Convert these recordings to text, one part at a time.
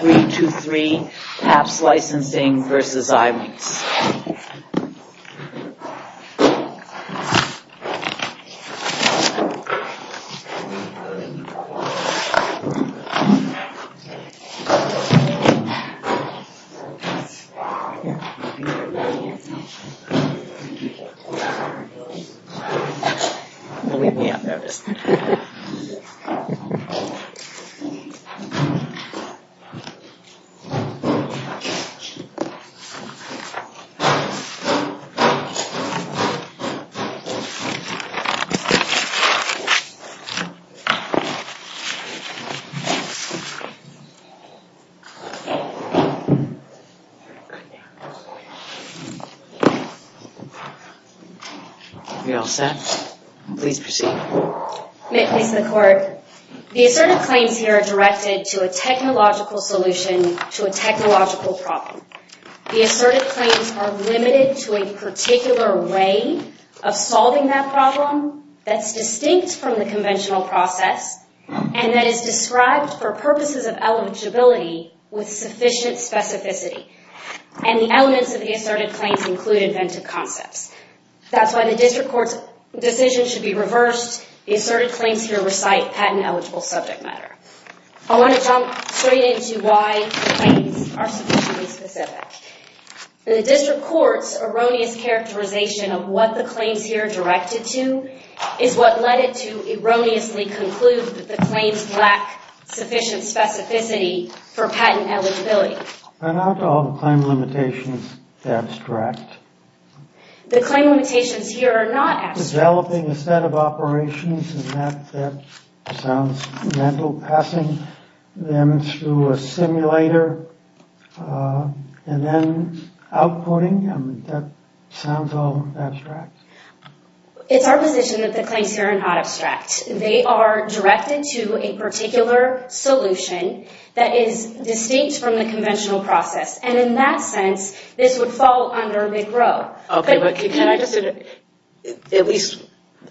323 Pabst Licensing v. Xilinx 323 Pabst Licensing v. Xilinx, Inc. We are all set. Please proceed. Mr. Court, the assertive claims here are directed to a technological solution to a technological problem. The assertive claims are limited to a particular way of solving that problem that's distinct from the conventional process and that is described for purposes of eligibility with sufficient specificity. And the elements of the assertive claims include inventive concepts. That's why the district court's decision should be reversed. The assertive claims here recite patent-eligible subject matter. I want to jump straight into why the claims are sufficiently specific. The district court's erroneous characterization of what the claims here are directed to is what led it to erroneously conclude that the claims lack sufficient specificity for patent eligibility. Are not all the claim limitations abstract? The claim limitations here are not abstract. Developing a set of operations and that sounds mental, passing them through a simulator and then outputting, that sounds all abstract. It's our position that the claims here are not abstract. They are directed to a particular solution that is distinct from the conventional process. And in that sense, this would fall under a big row. Okay, but can I just, at least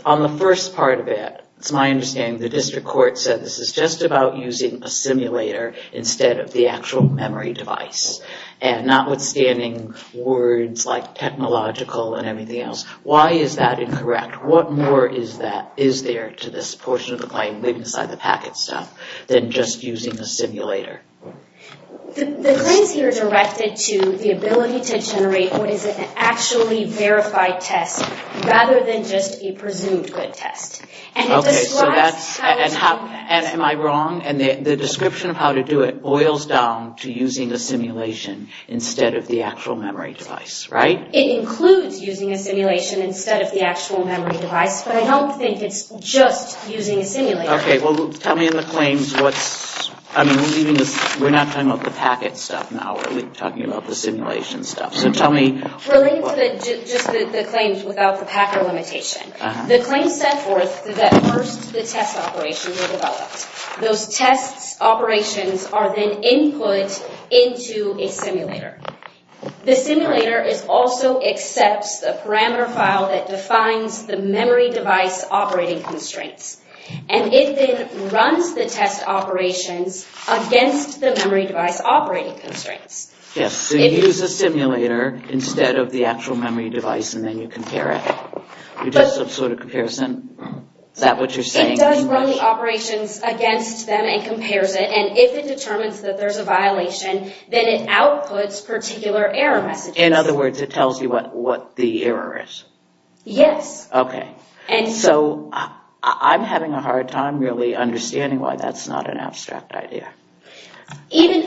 on the first part of it, it's my understanding the district court said this is just about using a simulator instead of the actual memory device. And not withstanding words like technological and everything else, why is that incorrect? What more is there to this portion of the claim, leaving aside the packet stuff, than just using a simulator? The claims here are directed to the ability to generate what is an actually verified test rather than just a presumed good test. Okay, so that's, am I wrong? And the description of how to do it boils down to using a simulation instead of the actual memory device, right? It includes using a simulation instead of the actual memory device, but I don't think it's just using a simulator. Okay, well, tell me in the claims what's, I mean, we're not talking about the packet stuff now, we're talking about the simulation stuff. So tell me... Relating to just the claims without the packet limitation. The claims set forth that first the test operations are developed. Those test operations are then input into a simulator. The simulator is also accepts the parameter file that defines the memory device operating constraints. And it then runs the test operations against the memory device operating constraints. Yes, so you use a simulator instead of the actual memory device and then you compare it. You just sort of comparison, is that what you're saying? It does run the operations against them and compares it, and if it determines that there's a violation, then it outputs particular error messages. In other words, it tells you what the error is? Yes. Okay, so I'm having a hard time really understanding why that's not an abstract idea. Even,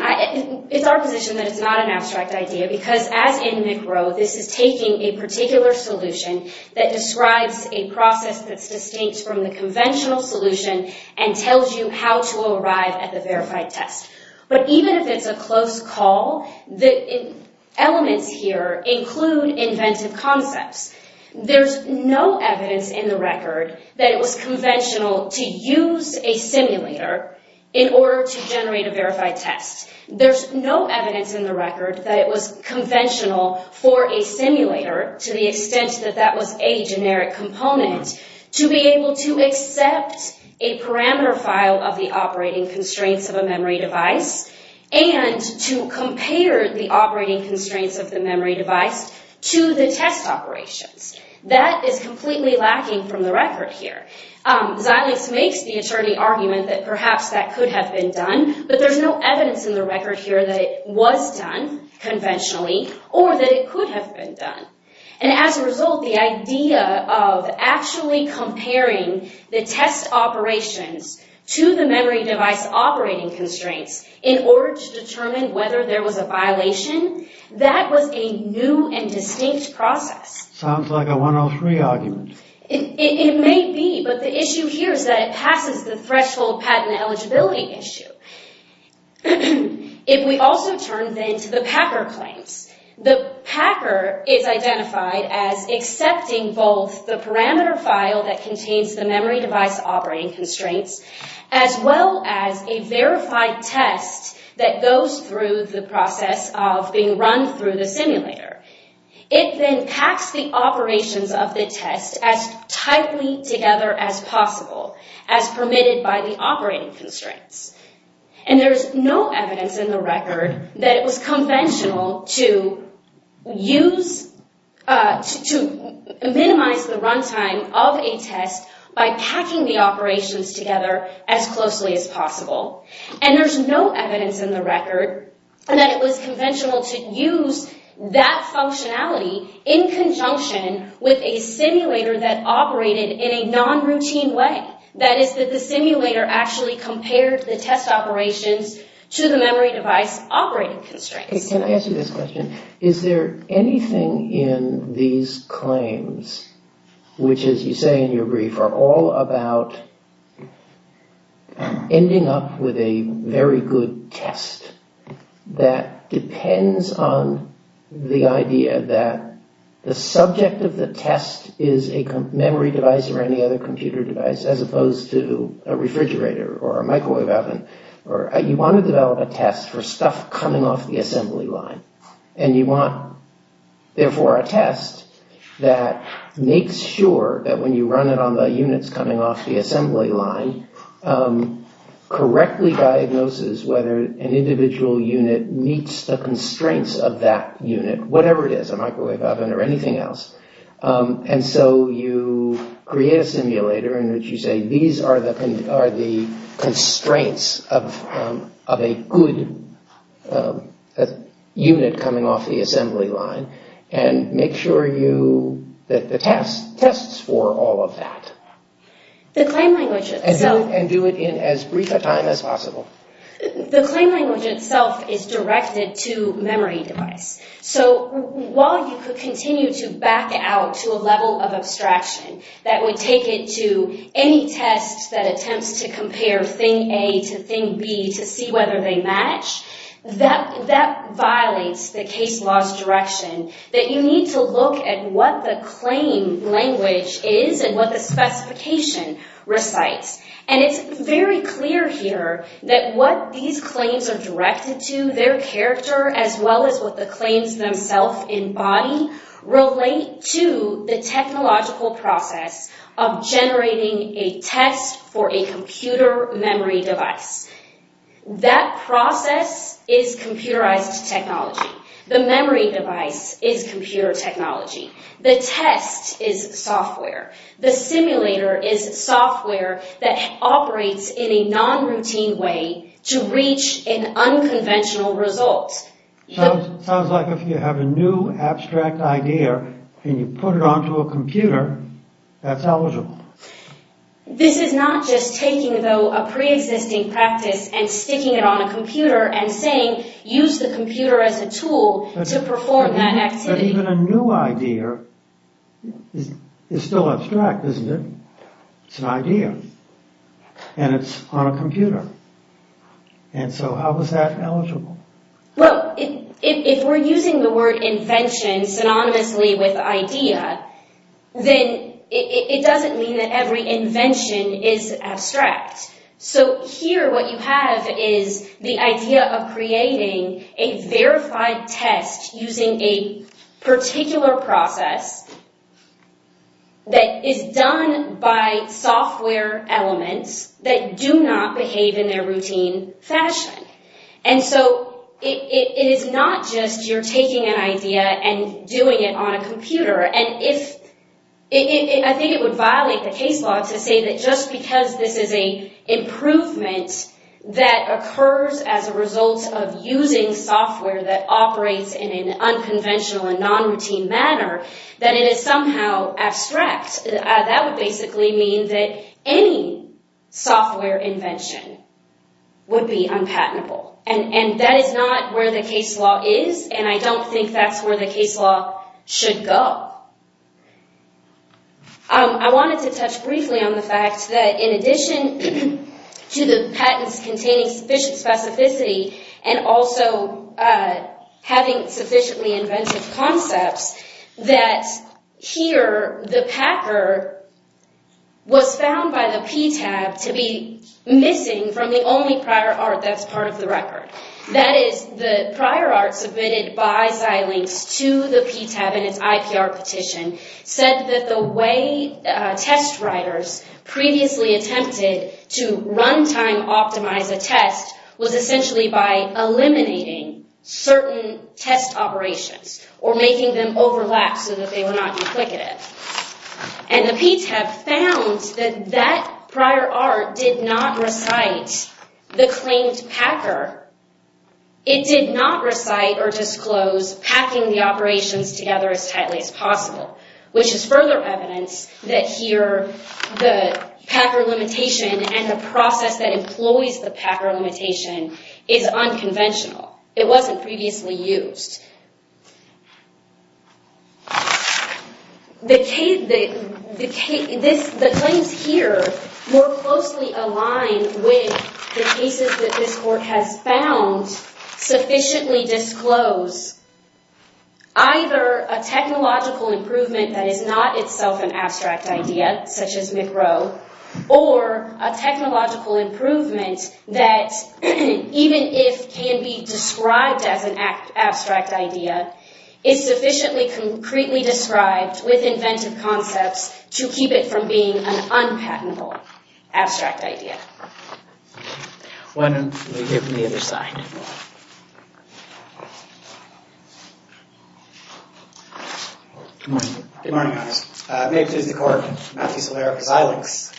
it's our position that it's not an abstract idea, because as in McRow, this is taking a particular solution that describes a process that's distinct from the conventional solution and tells you how to arrive at the verified test. But even if it's a close call, the elements here include inventive concepts. There's no evidence in the record that it was conventional to use a simulator in order to generate a verified test. There's no evidence in the record that it was conventional for a simulator, to the extent that that was a generic component, to be able to accept a parameter file of the operating constraints of a memory device and to compare the operating constraints of the memory device to the test operations. That is completely lacking from the record here. Xilinx makes the attorney argument that perhaps that could have been done, but there's no And as a result, the idea of actually comparing the test operations to the memory device operating constraints in order to determine whether there was a violation, that was a new and distinct process. Sounds like a 103 argument. It may be, but the issue here is that it passes the threshold patent eligibility issue. If we also turn then to the Packer claims, the Packer is identified as accepting both the parameter file that contains the memory device operating constraints, as well as a verified test that goes through the process of being run through the simulator. It then packs the operations of the test as tightly together as possible, as permitted by the operating constraints. And there's no evidence in the record that it was conventional to use, to minimize the runtime of a test by packing the operations together as closely as possible. And there's no evidence in the record that it was conventional to use that functionality in conjunction with a simulator that operated in a non-routine way. That is, that the simulator actually compared the test operations to the memory device operating constraints. Can I ask you this question? Is there anything in these claims, which as you say in your brief, are all about ending up with a very good test that depends on the idea that the subject of the test is a memory device or any other computer device, as opposed to a refrigerator or a microwave oven? You want to develop a test for stuff coming off the assembly line. And you want, therefore, a test that makes sure that when you run it on the units coming off the assembly line, correctly diagnoses whether an individual unit meets the constraints of that unit, whatever it is, a microwave oven or anything else. And so you create a simulator in which you say, these are the constraints of a good unit coming off the assembly line. And make sure that the test tests for all of that. And do it in as brief a time as possible. The claim language itself is directed to memory device. So while you could continue to back out to a level of abstraction that would take it to any test that attempts to compare thing A to thing B to see whether they match, that violates the case law's direction. That you need to look at what the claim language is and what the specification recites. And it's very clear here that what these claims are directed to, their character, as well as what the claims themselves embody, relate to the technological process of generating a test for a computer memory device. That process is computerized technology. The memory device is computer technology. The test is software. The simulator is software that operates in a non-routine way to reach an unconventional result. Sounds like if you have a new abstract idea and you put it onto a computer, that's eligible. This is not just taking, though, a pre-existing practice and sticking it on a computer and saying, use the computer as a tool to perform that activity. But even a new idea is still abstract, isn't it? It's an idea. And it's on a computer. And so how is that eligible? Well, if we're using the word invention synonymously with idea, then it doesn't mean that every invention is abstract. So here what you have is the idea of creating a verified test using a particular process that is done by software elements that do not behave in their routine fashion. And so it is not just you're taking an idea and doing it on a computer. And I think it would violate the case law to say that just because this is an improvement that occurs as a result of using software that operates in an unconventional and non-routine manner, that it is somehow abstract. That would basically mean that any software invention would be unpatentable. And that is not where the case law is, and I don't think that's where the case law should go. I wanted to touch briefly on the fact that in addition to the patents containing sufficient concepts, that here the Packer was found by the PTAB to be missing from the only prior art that's part of the record. That is, the prior art submitted by Xilinx to the PTAB in its IPR petition said that the way test writers previously attempted to runtime optimize a test was essentially by eliminating certain test operations or making them overlap so that they were not duplicative. And the PTAB found that that prior art did not recite the claimed Packer. It did not recite or disclose packing the operations together as tightly as possible, which is further evidence that here the Packer limitation and the process that employs the Packer limitation is unconventional. It wasn't previously used. The claims here more closely align with the cases that this court has found sufficiently disclose either a technological improvement that is not itself an abstract idea, such as McRow, or a technological improvement that even if can be described as an abstract idea, is sufficiently concretely described with inventive concepts to keep it from being an unpatentable abstract idea. Why don't we give them the other side. Good morning. Good morning, Your Honor. May it please the court, Matthew Solera for Xilinx.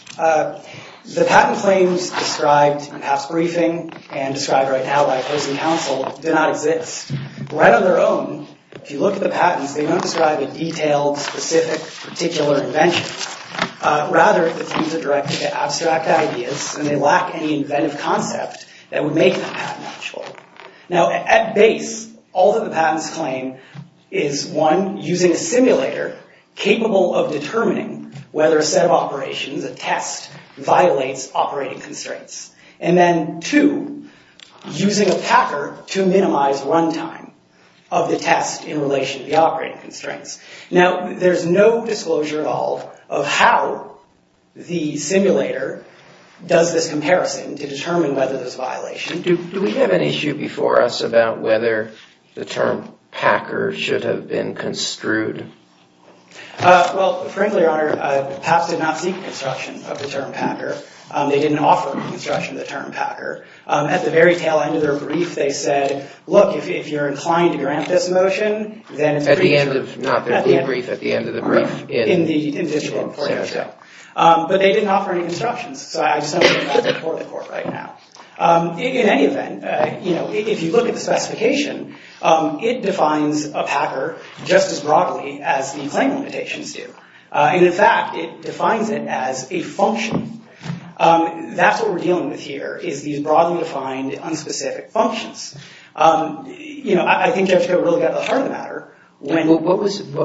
The patent claims described in past briefing and described right now by opposing counsel do not exist. Right on their own, if you look at the patents, they don't describe a detailed, specific, particular invention. Rather, the claims are directed at abstract ideas, and they lack any inventive concept that would make that patent actual. Now, at base, all that the patents claim is, one, using a simulator capable of determining whether a set of operations, a test, violates operating constraints. And then, two, using a Packer to minimize runtime of the test in relation to the operating constraints. Now, there's no disclosure at all of how the simulator does this comparison to determine whether there's a violation. Do we have an issue before us about whether the term Packer should have been construed? Well, frankly, Your Honor, PAPS did not seek construction of the term Packer. They didn't offer construction of the term Packer. At the very tail end of their brief, they said, look, if you're inclined to grant this motion, then it's pretty sure. At the end of, not their brief, at the end of the brief. In the initial plan. But they didn't offer any constructions, so I just don't think that's before the court right now. In any event, if you look at the specification, it defines a Packer just as broadly as the claim limitations do. And in fact, it defines it as a function. That's what we're dealing with here, is these broadly defined, unspecific functions. You know, I think you have to really get to the heart of the matter. What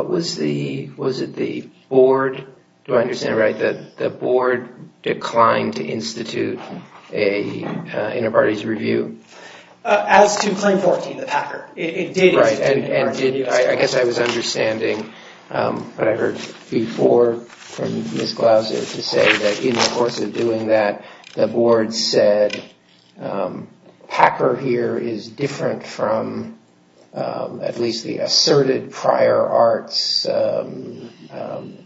was the, was it the board, do I understand it right, that the board declined to institute an inter parties review? As to claim 14, the Packer. Right. I guess I was understanding what I heard before from Ms. Glauser to say that in the course of doing that, the board said, Packer here is different from at least the asserted prior arts, shorten the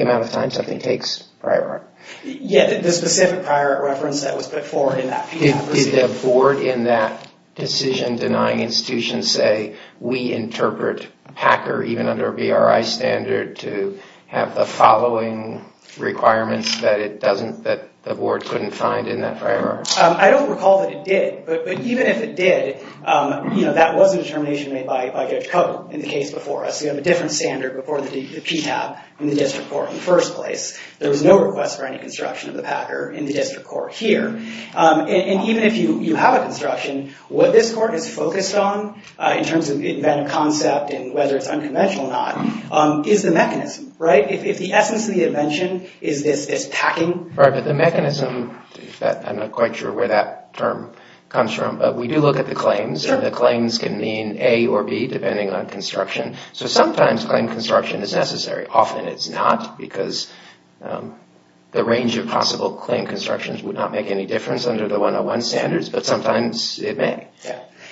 amount of time something takes prior art. Yeah, the specific prior art reference that was put forward in that. Did the board in that decision denying institution say, we interpret Packer even under a BRI standard to have the following requirements that it doesn't, that the board couldn't find in that prior art? I don't recall that it did, but even if it did, you know, that was a determination made by Judge Cote in the case before us. You have a different standard before the PTAB in the district court in the first place. There was no request for any construction of the Packer in the district court here. And even if you have a construction, what this court is focused on, in terms of inventive concept and whether it's unconventional or not, is the mechanism, right? If the essence of the invention is this packing. Right, but the mechanism, I'm not quite sure where that term comes from, but we do look at the claims, and the claims can mean A or B, depending on construction. So sometimes claim construction is necessary. Often it's not, because the range of possible claim constructions would not make any difference under the 101 standards, but sometimes it may.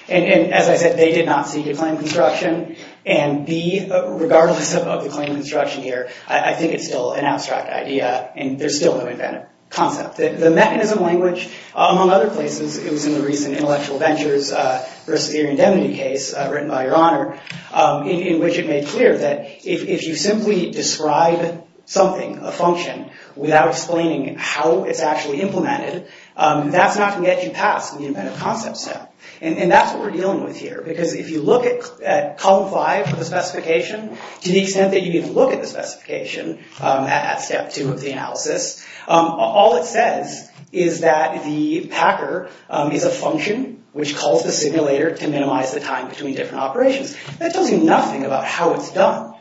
And as I said, they did not see the claim construction, and B, regardless of the claim construction here, I think it's still an abstract idea, and there's still no inventive concept. The mechanism language, among other places, it was in the recent Intellectual Ventures vs. Theory of Indemnity case, written by Your Honor, in which it made clear that if you simply describe something, a function, without explaining how it's actually implemented, that's not going to get you past the inventive concept step. And that's what we're dealing with here, because if you look at column 5 of the specification, to the extent that you even look at the specification, at step 2 of the analysis, all it says is that the packer is a function which calls the simulator to minimize the time between different operations. That tells you nothing about how it's done.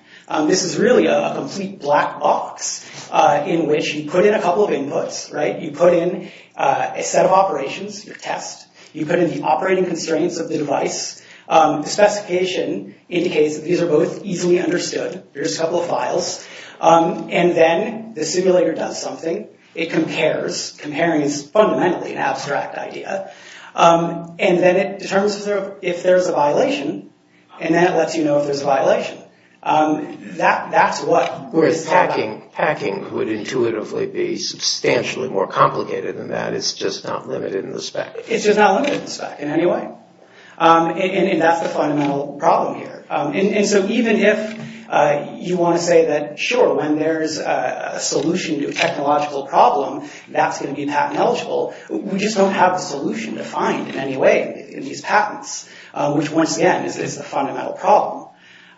This is really a complete black box, in which you put in a couple of inputs, right? You put in a set of operations, your test. You put in the operating constraints of the device. The specification indicates that these are both easily understood. Here's a couple of files. And then the simulator does something. It compares. Comparing is fundamentally an abstract idea. And then it determines if there's a violation, and then it lets you know if there's a violation. Whereas packing would intuitively be substantially more complicated than that. It's just not limited in the spec. It's just not limited in the spec in any way. And that's the fundamental problem here. And so even if you want to say that, sure, when there's a solution to a technological problem, that's going to be patent eligible. We just don't have a solution to find in any way in these patents, which once again is the fundamental problem.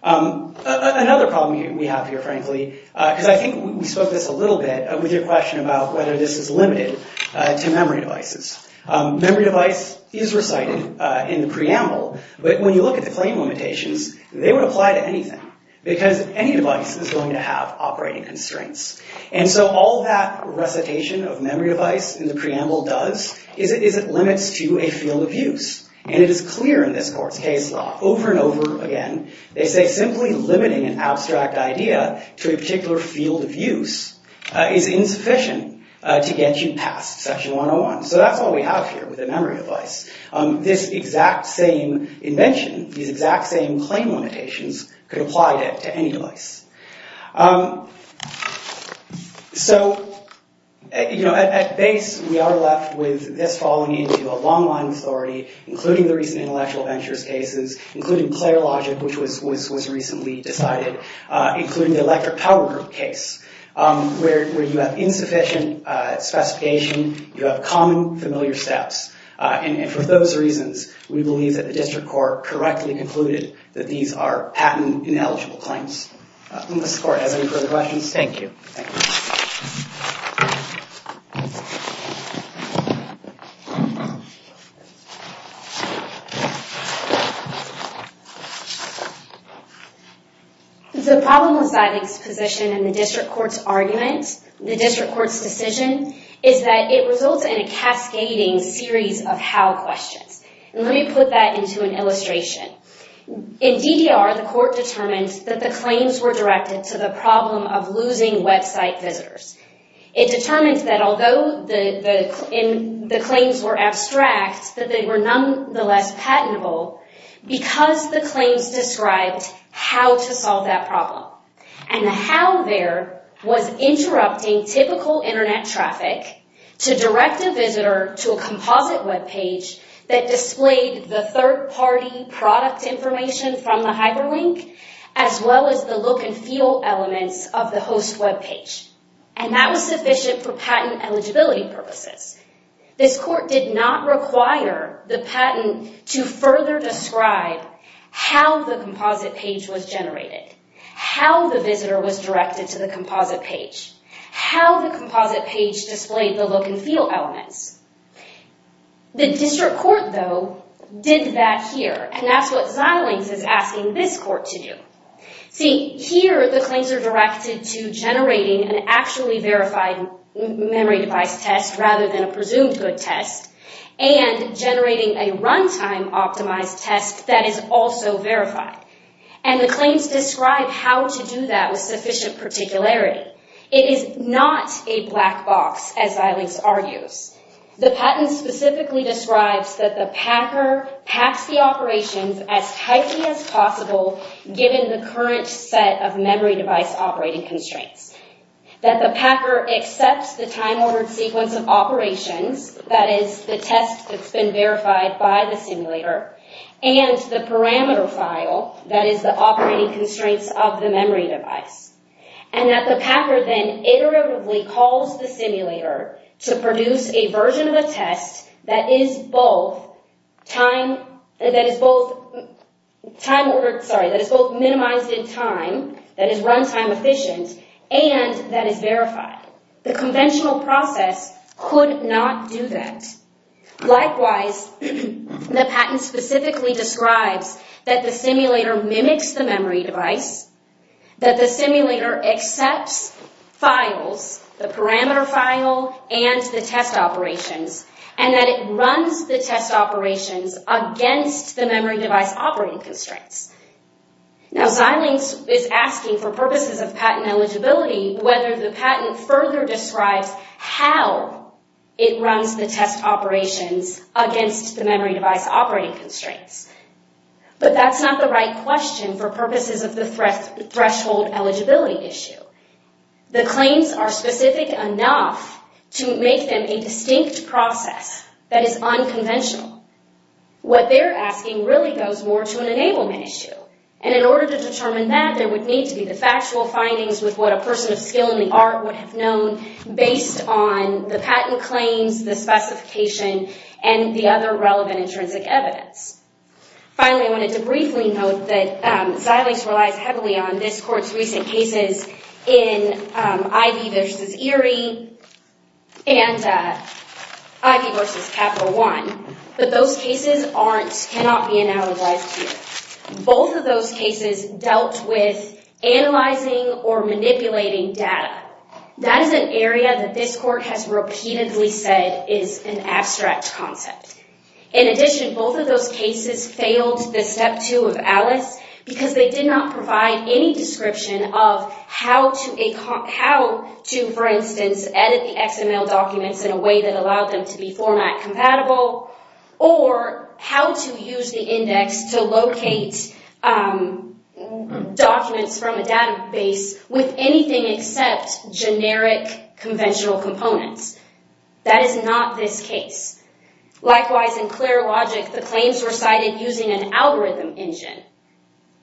Another problem we have here, frankly, because I think we spoke this a little bit with your question about whether this is limited to memory devices. Memory device is recited in the preamble. But when you look at the claim limitations, they would apply to anything. Because any device is going to have operating constraints. And so all that recitation of memory device in the preamble does is it limits to a field of use. And it is clear in this court's case law, over and over again, they say simply limiting an abstract idea to a particular field of use is insufficient to get you past section 101. So that's what we have here with a memory device. This exact same invention, these exact same claim limitations, could apply to any device. So at base, we are left with this falling into a long line of authority, including the recent intellectual ventures cases, including player logic, which was recently decided, including the electric power group case, where you have insufficient specification, you have common familiar steps. And for those reasons, we believe that the district court correctly concluded that these are patent ineligible claims. Does the court have any further questions? Thank you. The problem with Ziding's position and the district court's argument, the district court's decision, is that it results in a cascading series of how questions. And let me put that into an illustration. In DDR, the court determined that the claims were directed to the problem of losing website visitors. It determined that although the claims were abstract, that they were nonetheless patentable because the claims described how to solve that problem. And the how there was interrupting typical internet traffic to direct a visitor to a composite web page that displayed the third-party product information from the hyperlink, as well as the look and feel elements of the host web page. And that was sufficient for patent eligibility purposes. This court did not require the patent to further describe how the composite page was generated, how the visitor was directed to the composite page, how the composite page displayed the look and feel elements. The district court, though, did that here. And that's what Ziding's is asking this court to do. See, here the claims are directed to generating an actually verified memory device test rather than a presumed good test, and generating a runtime-optimized test that is also verified. And the claims describe how to do that with sufficient particularity. It is not a black box, as Ziding's argues. The patent specifically describes that the packer packs the operations as tightly as possible given the current set of memory device operating constraints. That the packer accepts the time-ordered sequence of operations, that is, the test that's been verified by the simulator, and the parameter file, that is, the operating constraints of the memory device. And that the packer then iteratively calls the simulator to produce a version of the test that is both minimized in time, that is runtime-efficient, and that is verified. The conventional process could not do that. Likewise, the patent specifically describes that the simulator mimics the memory device, that the simulator accepts files, the parameter file and the test operations, and that it runs the test operations against the memory device operating constraints. Now, Ziding is asking for purposes of patent eligibility whether the patent further describes how it runs the test operations against the memory device operating constraints. But that's not the right question for purposes of the threshold eligibility issue. The claims are specific enough to make them a distinct process that is unconventional. What they're asking really goes more to an enablement issue. And in order to determine that, there would need to be the factual findings with what a person of skill in the art would have known based on the patent claims, the specification, and the other relevant intrinsic evidence. Finally, I wanted to briefly note that Zidings relies heavily on this court's recent cases in Ivey v. Erie and Ivey v. Capital One. But those cases cannot be analogized here. Both of those cases dealt with analyzing or manipulating data. That is an area that this court has repeatedly said is an abstract concept. In addition, both of those cases failed the Step 2 of ALICE because they did not provide any description of how to, for instance, edit the XML documents in a way that allowed them to be format compatible or how to use the index to locate documents from a database with anything except generic conventional components. That is not this case. Likewise, in Clear Logic, the claims were cited using an algorithm engine.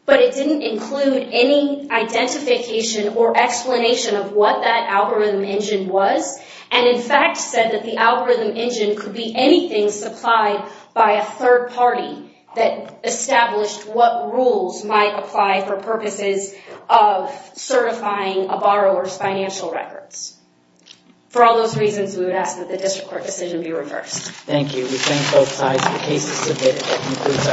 But it didn't include any identification or explanation of what that algorithm engine was, and in fact said that the algorithm engine could be anything supplied by a third party that established what rules might apply for purposes of certifying a borrower's financial records. For all those reasons, we would ask that the district court decision be reversed. Thank you. We thank both sides for cases submitted. That concludes our proceedings for this morning.